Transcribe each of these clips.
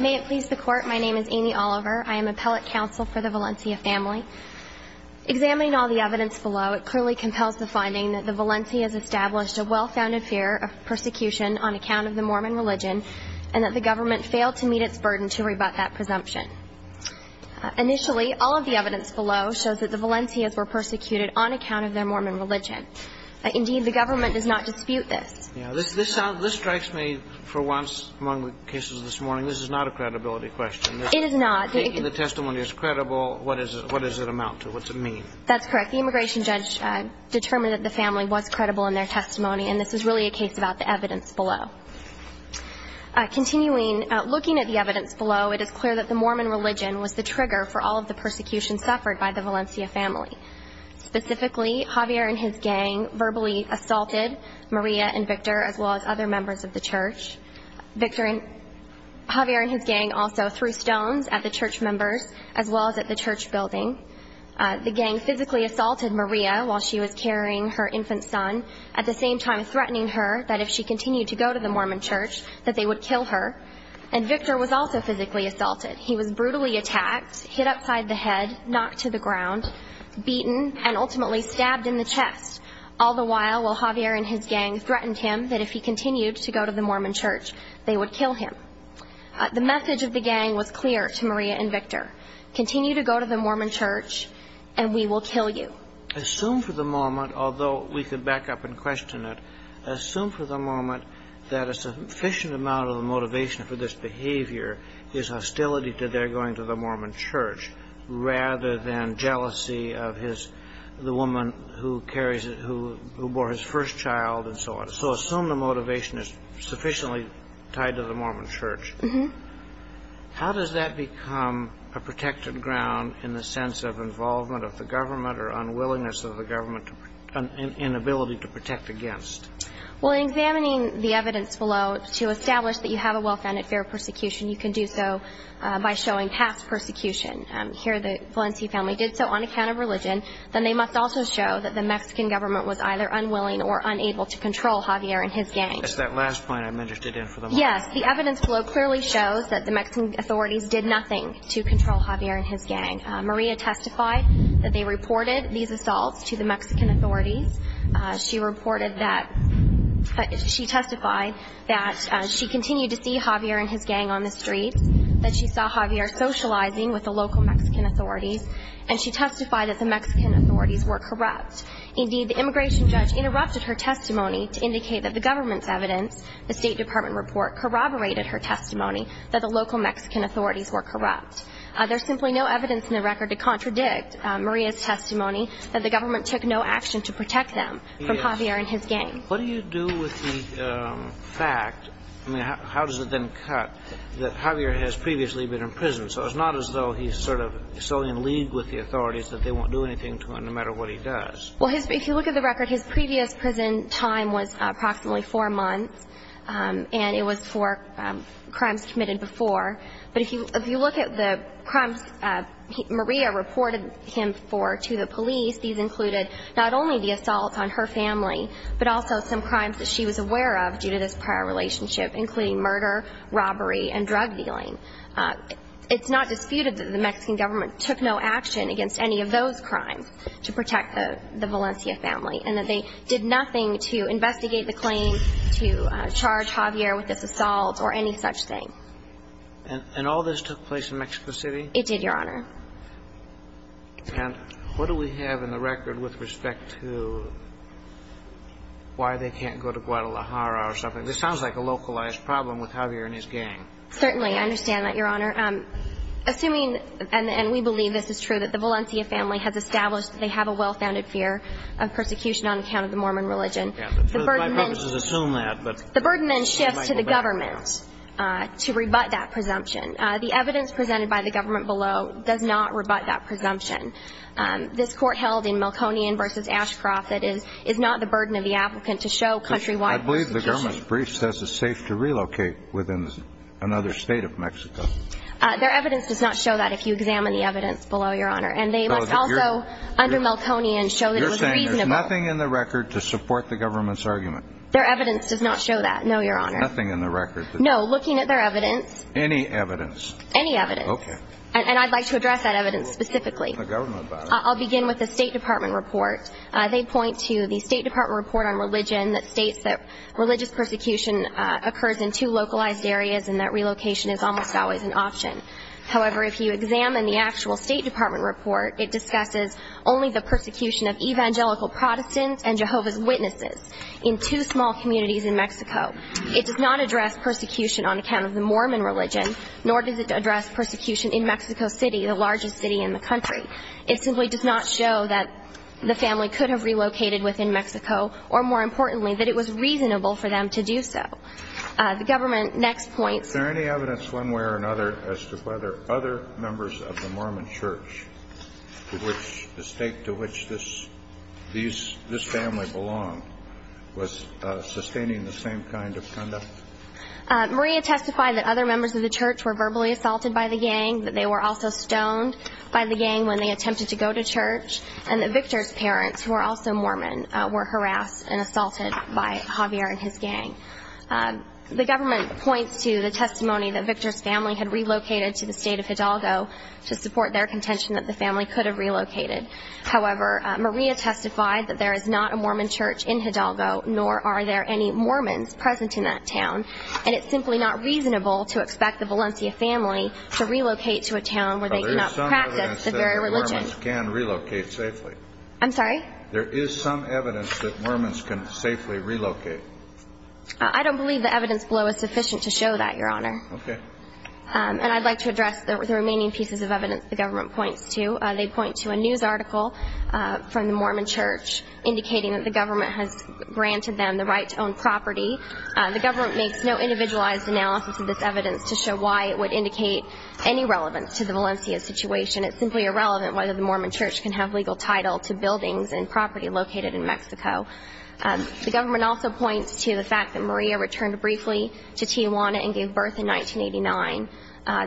May it please the Court, my name is Amy Oliver. I am appellate counsel for the Valencia family. Examining all the evidence below, it clearly compels the finding that the Valencians established a well-founded fear of persecution on account of the Mormon religion and that the government failed to meet its burden to rebut that presumption. Initially, all of the evidence below shows that the Valencians were persecuted on account of their Mormon religion. Indeed, the government does not dispute this. This strikes me for once among the cases this morning, this is not a credibility question. It is not. If the testimony is credible, what does it amount to? What does it mean? That's correct. The immigration judge determined that the family was credible in their testimony and this is really a case about the evidence below. Continuing at the evidence below, it is clear that the Mormon religion was the trigger for all of the persecution suffered by the Valencia family. Specifically, Javier and his gang verbally assaulted Maria and Victor as well as other members of the church. Javier and his gang also threw stones at the church members as well as at the church building. The gang physically assaulted Maria while she was carrying her infant son, at the same time threatening her that if she continued to go to the Mormon church, that they would kill her. And Victor was also physically assaulted. He was brutally attacked, hit upside the head, knocked to the ground, beaten, and ultimately stabbed in the chest. All the while, while Javier and his gang threatened him that if he continued to go to the Mormon church, they would kill him. The message of the gang was clear to Maria and Victor. Continue to go to the Mormon church and we will kill you. Assume for the moment, although we can back up and question it, assume for the moment that a sufficient amount of the motivation for this behavior is hostility to their going to the Mormon church, rather than jealousy of the woman who bore his first child and so on. So assume the motivation is sufficiently tied to the Mormon church. How does that become a protected ground in the sense of involvement of the Well, in examining the evidence below, to establish that you have a well-founded fear of persecution, you can do so by showing past persecution. Here the Valencia family did so on account of religion. Then they must also show that the Mexican government was either unwilling or unable to control Javier and his gang. That's that last point I'm interested in for the moment. Yes, the evidence below clearly shows that the Mexican authorities did nothing to control Javier and his gang. Maria testified that they reported these assaults to the Mexican authorities. She testified that she continued to see Javier and his gang on the streets, that she saw Javier socializing with the local Mexican authorities, and she testified that the Mexican authorities were corrupt. Indeed, the immigration judge interrupted her testimony to indicate that the government's evidence, the State Department report, corroborated her testimony that the local Mexican authorities were corrupt. There's simply no evidence in Maria's testimony that the government took no action to protect them from Javier and his gang. What do you do with the fact, I mean, how does it then cut that Javier has previously been in prison? So it's not as though he's sort of solely in league with the authorities that they won't do anything to him no matter what he does. Well, if you look at the record, his previous prison time was approximately four months, and it was four crimes committed before. But if you look at the crimes Maria reported him for to the police, these included not only the assaults on her family, but also some crimes that she was aware of due to this prior relationship, including murder, robbery, and drug dealing. It's not disputed that the Mexican government took no action against any of those crimes to protect the Valencia family, and that they did nothing to investigate the claim, to charge Javier with this assault or any such thing. And all this took place in Mexico City? It did, Your Honor. And what do we have in the record with respect to why they can't go to Guadalajara or something? This sounds like a localized problem with Javier and his gang. Certainly. I understand that, Your Honor. Assuming, and we believe this is true, that the Valencia family has established that they have a well-founded fear of persecution on account of the Mormon religion, the burden then shifts to the government to rebut that presumption. The evidence presented by the government below does not rebut that presumption. This court held in Melkonian v. Ashcroft, that is not the burden of the applicant to show countrywide. I believe the government's brief says it's safe to relocate within another state of Mexico. Their evidence does not show that if you examine the evidence below, Your Honor. Nothing in the record to support the government's argument? Their evidence does not show that, no, Your Honor. Nothing in the record? No, looking at their evidence. Any evidence? Any evidence. Okay. And I'd like to address that evidence specifically. I'll begin with the State Department report. They point to the State Department report on religion that states that religious persecution occurs in two localized areas and that relocation is almost always an option. However, if you examine the actual State Department report, it discusses only the persecution of Evangelical Protestants and Jehovah's Witnesses in two small communities in Mexico. It does not address persecution on account of the Mormon religion nor does it address persecution in Mexico City, the largest city in the country. It simply does not show that the family could have relocated within Mexico or, more importantly, that it was reasonable for them to do so. The government next points. Is there any evidence one way or another as to whether other members of the Mormon church to which the state to which this family belonged was sustaining the same kind of conduct? Maria testified that other members of the church were verbally assaulted by the gang, that they were also stoned by the gang when they attempted to go to church, and that Victor's parents, who were also Mormon, were harassed and assaulted by Javier and his gang. The government points to the testimony that Victor's family had relocated to the state of Hidalgo to support their contention that the family could have relocated. However, Maria testified that there is not a Mormon church in Hidalgo, nor are there any Mormons present in that town, and it's simply not reasonable to expect the Valencia family to relocate to a town where they cannot practice the very religion. But there is some evidence that Mormons can relocate safely. I'm sorry? There is some evidence that Mormons can safely relocate. I don't believe the evidence below is sufficient to show that, Your Honor. Okay. And I'd like to address the remaining pieces of evidence the government points to. They point to a news article from the Mormon church indicating that the government has granted them the right to own property. The government makes no individualized analysis of this evidence to show why it would indicate any relevance to the Valencia situation. It's simply irrelevant whether the Mormon church can have legal title to buildings and property located in Mexico. The government also points to the fact that Maria returned briefly to Tijuana and gave birth in 1989.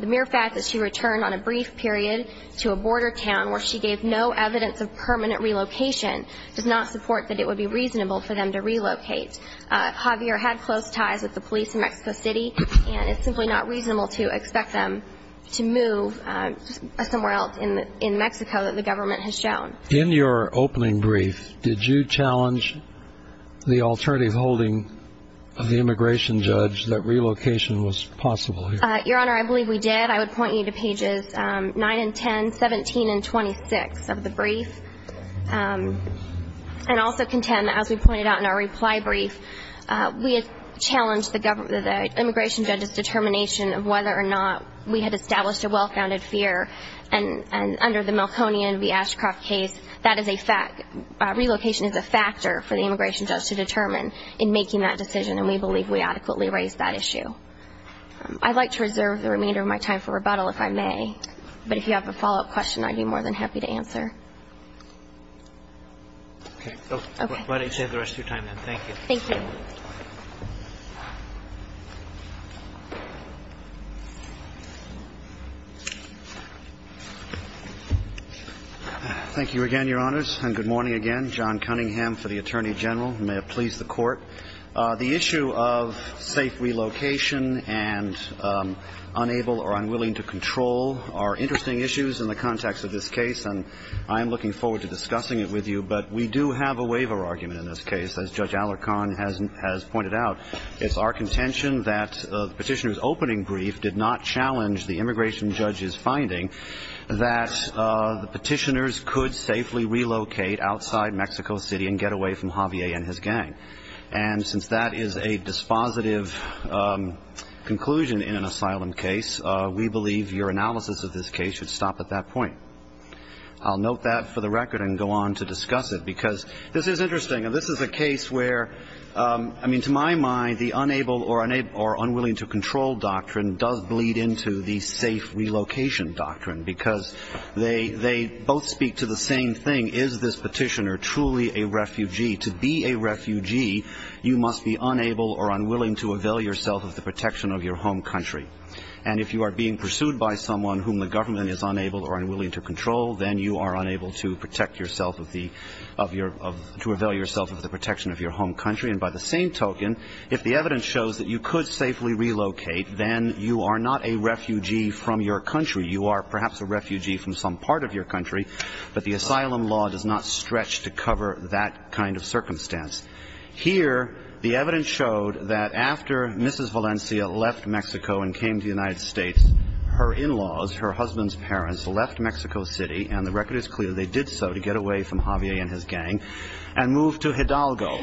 The mere fact that she returned on a brief period to a border town where she gave no evidence of permanent relocation does not support that it would be reasonable for them to relocate. Javier had close ties with the police in Mexico City, and it's simply not reasonable to expect them to move somewhere else in Mexico that the government has shown. In your opening brief, did you challenge the alternative holding of the immigration judge that relocation was possible here? Your Honor, I believe we did. I would point you to pages 9 and 10, 17 and 26 of the brief, and also contend that, as we pointed out in our reply brief, we had challenged the immigration judge's determination of whether or not we had established a well-founded fear, and under the Melkonian v. Ashcroft case, relocation is a factor for the immigration judge to determine in making that decision, and we believe we adequately raised that issue. I'd like to reserve the remainder of my time for rebuttal, if I may, but if you have a follow-up question I'd be more than happy to answer. Thank you again, Your Honors, and good morning again. John Cunningham for the Attorney General, who may have pleased the Court. The issue of safe relocation and unable or unwilling to control are interesting issues in the context of this case, and I am looking forward to discussing it with you, but we do have a waiver argument in this case, as Judge Alarcon has pointed out. It's our contention that the petitioner's opening brief did not challenge the immigration judge's finding that the petitioners could safely relocate outside Mexico City and get away from Javier and his gang, and since that is a dispositive conclusion in an asylum case, we believe your analysis of this case should stop at that point. I'll note that for the record and go on to discuss it, because this is interesting, and this is a case where, I mean, to my mind, the unable or unwilling to control doctrine does bleed into the safe relocation doctrine, because they both speak to the same thing. Is this petitioner truly a refugee? To be a refugee, you must be unable or unwilling to avail yourself of the protection of your home country. And if you are being pursued by someone whom the government is unable or unwilling to control, then you are unable to protect yourself of the – of your – to avail yourself of the protection of your home country. And by the same token, if the evidence shows that you could safely relocate, then you are not a refugee from your country. You are perhaps a refugee from some part of your country, but the asylum law does not stretch to cover that kind of circumstance. Here the evidence showed that after Mrs. Valencia left Mexico and came to the United States, her in-laws, her husband's parents, left Mexico City – and the record is clear they did so to get away from Javier and his gang – and moved to Hidalgo.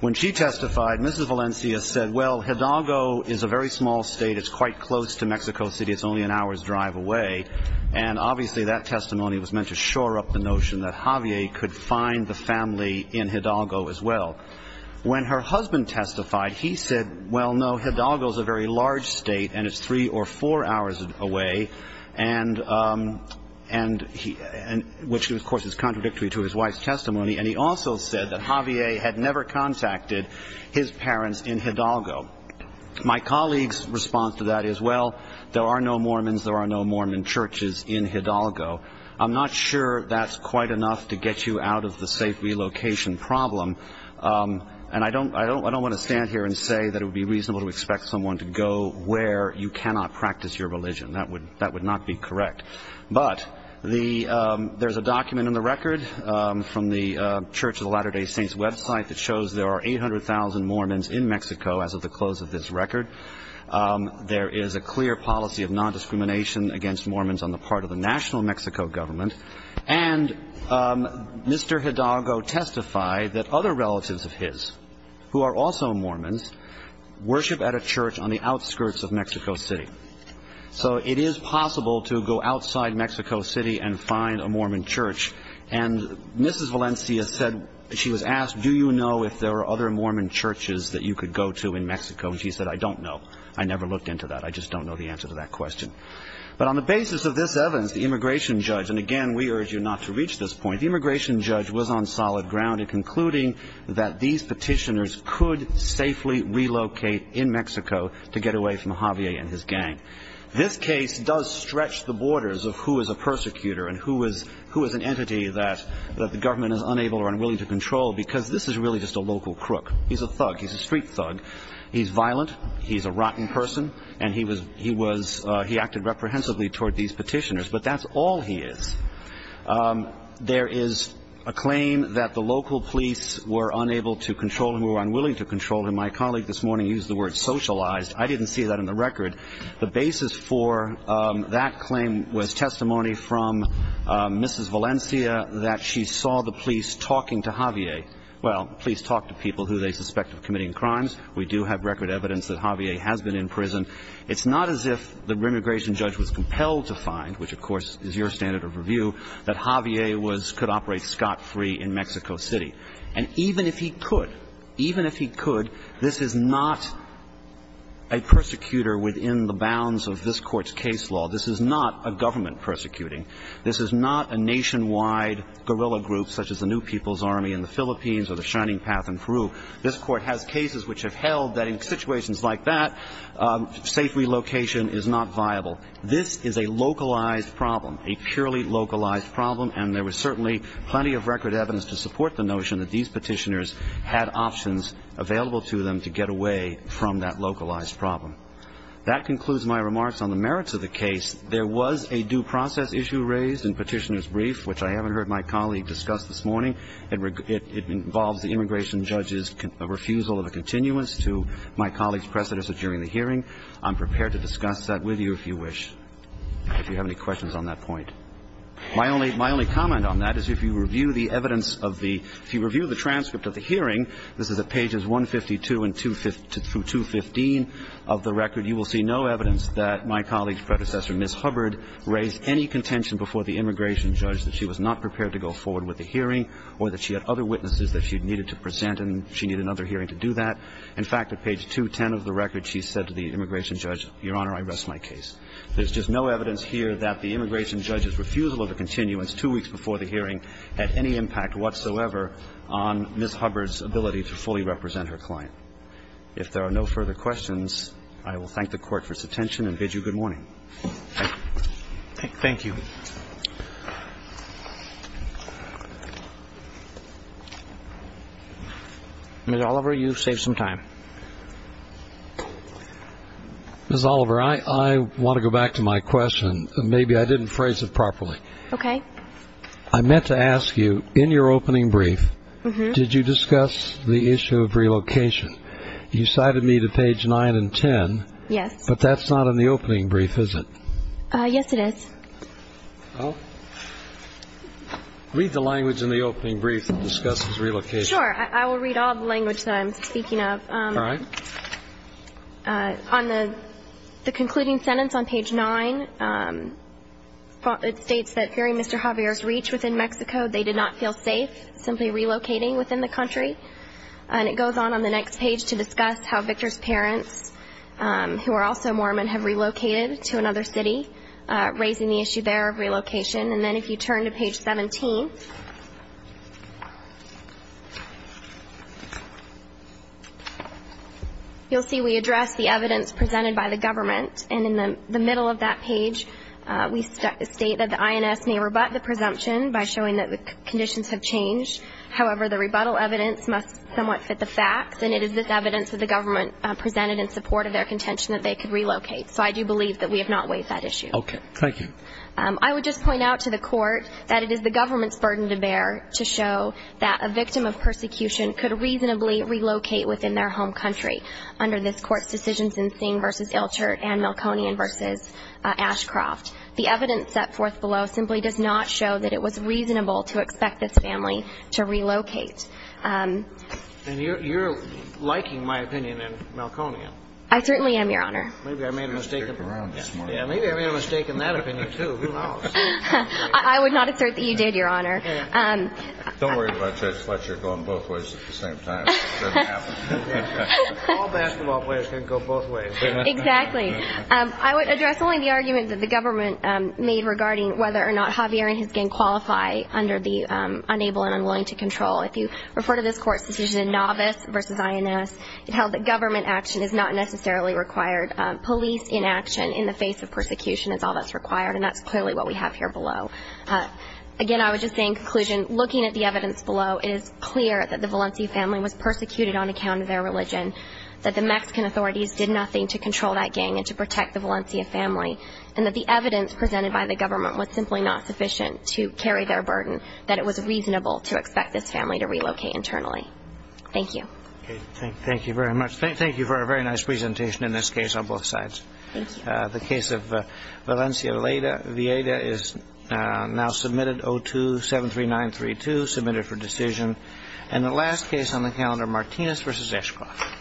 When she testified, Mrs. Valencia said, well, Hidalgo is a very small state. It's quite close to Mexico City. It's only an hour's drive away. And obviously that testimony was meant to shore up the notion that Javier could find the family in Hidalgo as well. When her husband testified, he said, well, no, Hidalgo's a very large state, and it's three or four hours away, and – and he – and – which, of course, is contradictory to his wife's testimony, and he also said that Javier had never contacted his parents in Hidalgo. My colleague's response to that is, well, there are no Mormons, there are no Mormon churches in Hidalgo. I'm not sure that's quite enough to get you out of the safe relocation problem, and I don't – I don't – I don't want to stand here and say that it would be reasonable to expect someone to go where you cannot practice your religion. That would – that would not be correct. But the – there's a document in the record from the Church of the Latter-day Saints website that shows there are 800,000 Mormons in Mexico as of the close of this record. There is a clear policy of nondiscrimination against Mormons on the part of the national Mexico government. And Mr. Hidalgo testified that other relatives of his who are also Mormons worship at a church on the outskirts of Mexico City. So it is possible to go outside Mexico City and find a Mormon church. And Mrs. Valencia said – she was asked, do you know if there are other Mormon churches that you could go to in Mexico? And she said, I don't know. I never looked into that. I just don't know the answer to that question. But on the basis of this evidence, the immigration judge – and again, we urge you not to reach this point – the immigration judge was on solid ground in concluding that these petitioners could safely relocate in Mexico to get away from Javier and his gang. This case does stretch the borders of who is a persecutor and who is an entity that the government is unable or unwilling to control because this is really just a local crook. He's a thug. He's a street thug. He's violent. He's a rotten person. And he was – he acted reprehensibly toward these petitioners. But that's all he is. There is a claim that the local police were unable to control him or were unwilling to control him. My colleague this morning used the word socialized. I didn't see that in the record. The basis for that claim was testimony from Mrs. Valencia that she saw the police talking to Javier. Well, police talk to people who they suspect of committing crimes. We do have record evidence that Javier has been in prison. It's not as if the immigration judge was compelled to find, which of course is your standard of review, that Javier could operate scot-free in Mexico City. And even if he could, even if he could, this is not a persecutor within the bounds of this Court's case law. This is not a government persecuting. This is not a nationwide guerrilla group such as the New People's Army in the Philippines or the Shining Path in Peru. This Court has cases which have held that in situations like that, safe relocation is not viable. This is a localized problem, a purely localized problem, and there was certainly plenty of record evidence to support the notion that these petitioners had options available to them to get away from that localized problem. That concludes my remarks on the merits of the case. There was a due process issue raised in Petitioner's Brief, which I haven't heard my colleague discuss this morning. It involves the immigration judge's refusal of a continuance to my colleague's precedence during the hearing. I'm prepared to discuss that with you if you wish, if you have any questions on that point. My only comment on that is if you review the evidence of the – if you review the transcript of the hearing, this is at pages 152 through 215 of the record, you will see no evidence that my colleague's predecessor, Ms. Hubbard, raised any contention before the immigration judge that she was not prepared to go forward with the hearing or that she had other witnesses that she needed to present and she needed another hearing to do that. In fact, at page 210 of the record, she said to the immigration judge, Your Honor, I rest my case. There's just no evidence here that the immigration judge's refusal of a continuance two weeks before the hearing had any impact whatsoever on Ms. Hubbard's ability to fully represent her client. If there are no further questions, I will thank the Court for its attention and bid you good morning. Thank you. Ms. Oliver, you've saved some time. Ms. Oliver, I want to go back to my question. Maybe I didn't phrase it properly. Okay. I meant to ask you, in your opening brief, did you discuss the issue of relocation? You cited me to page 9 and 10. Yes. But that's not in the opening brief, is it? Yes, it is. Read the language in the opening brief that discusses relocation. Sure. I will read all the language that I'm speaking of. All right. On the concluding sentence on page 9, it states that during Mr. Javier's reach within Mexico, they did not feel safe simply relocating within the country. And it goes on on the next page to discuss how Victor's parents, who are also Mormon, have relocated to another city, raising the issue there of relocation. And then if you turn to page 17, you'll see we address the evidence presented by the government. And in the middle of that page, we state that the INS may rebut the presumption by showing that the conditions have changed. However, the rebuttal evidence must somewhat fit the facts, and it is this evidence that the government presented in support of their contention that they could relocate. So I do believe that we have not waived that issue. Okay. Thank you. I would just point out to the Court that it is the government's burden to bear to show that a victim of persecution could reasonably relocate within their home country under this Court's decisions in Singh v. Ilchert and Milconian v. Ashcroft. The evidence set forth below simply does not show that it was reasonable to expect this family to relocate. And you're liking my opinion in Milconian. I certainly am, Your Honor. Maybe I made a mistake in that opinion, too. Who knows? I would not assert that you did, Your Honor. Don't worry about Judge Fletcher going both ways at the same time. It doesn't happen. All basketball players can go both ways. Exactly. I would address only the argument that the government made regarding whether or not Javier and his gang qualify under the Unable and Unwilling to Control. If you refer to this Court's decision in Novice v. INS, it held that government action is not necessarily required. Police inaction in the face of persecution is all that's required, and that's clearly what we have here below. Again, I would just say in conclusion, looking at the evidence below, it is clear that the Valencia family was persecuted on account of their religion, that the Mexican authorities did nothing to control that gang and to protect the Valencia family, and that the evidence presented by the government was simply not sufficient to carry their burden, that it was reasonable to expect this family to relocate internally. Thank you. Okay. Thank you very much. Thank you for a very nice presentation in this case on both sides. Thank you. The case of Valencia Vieda is now submitted, O2-73932, submitted for decision. And the last case on the calendar, Martinez v. Ashcroft. Thank you. Thank you.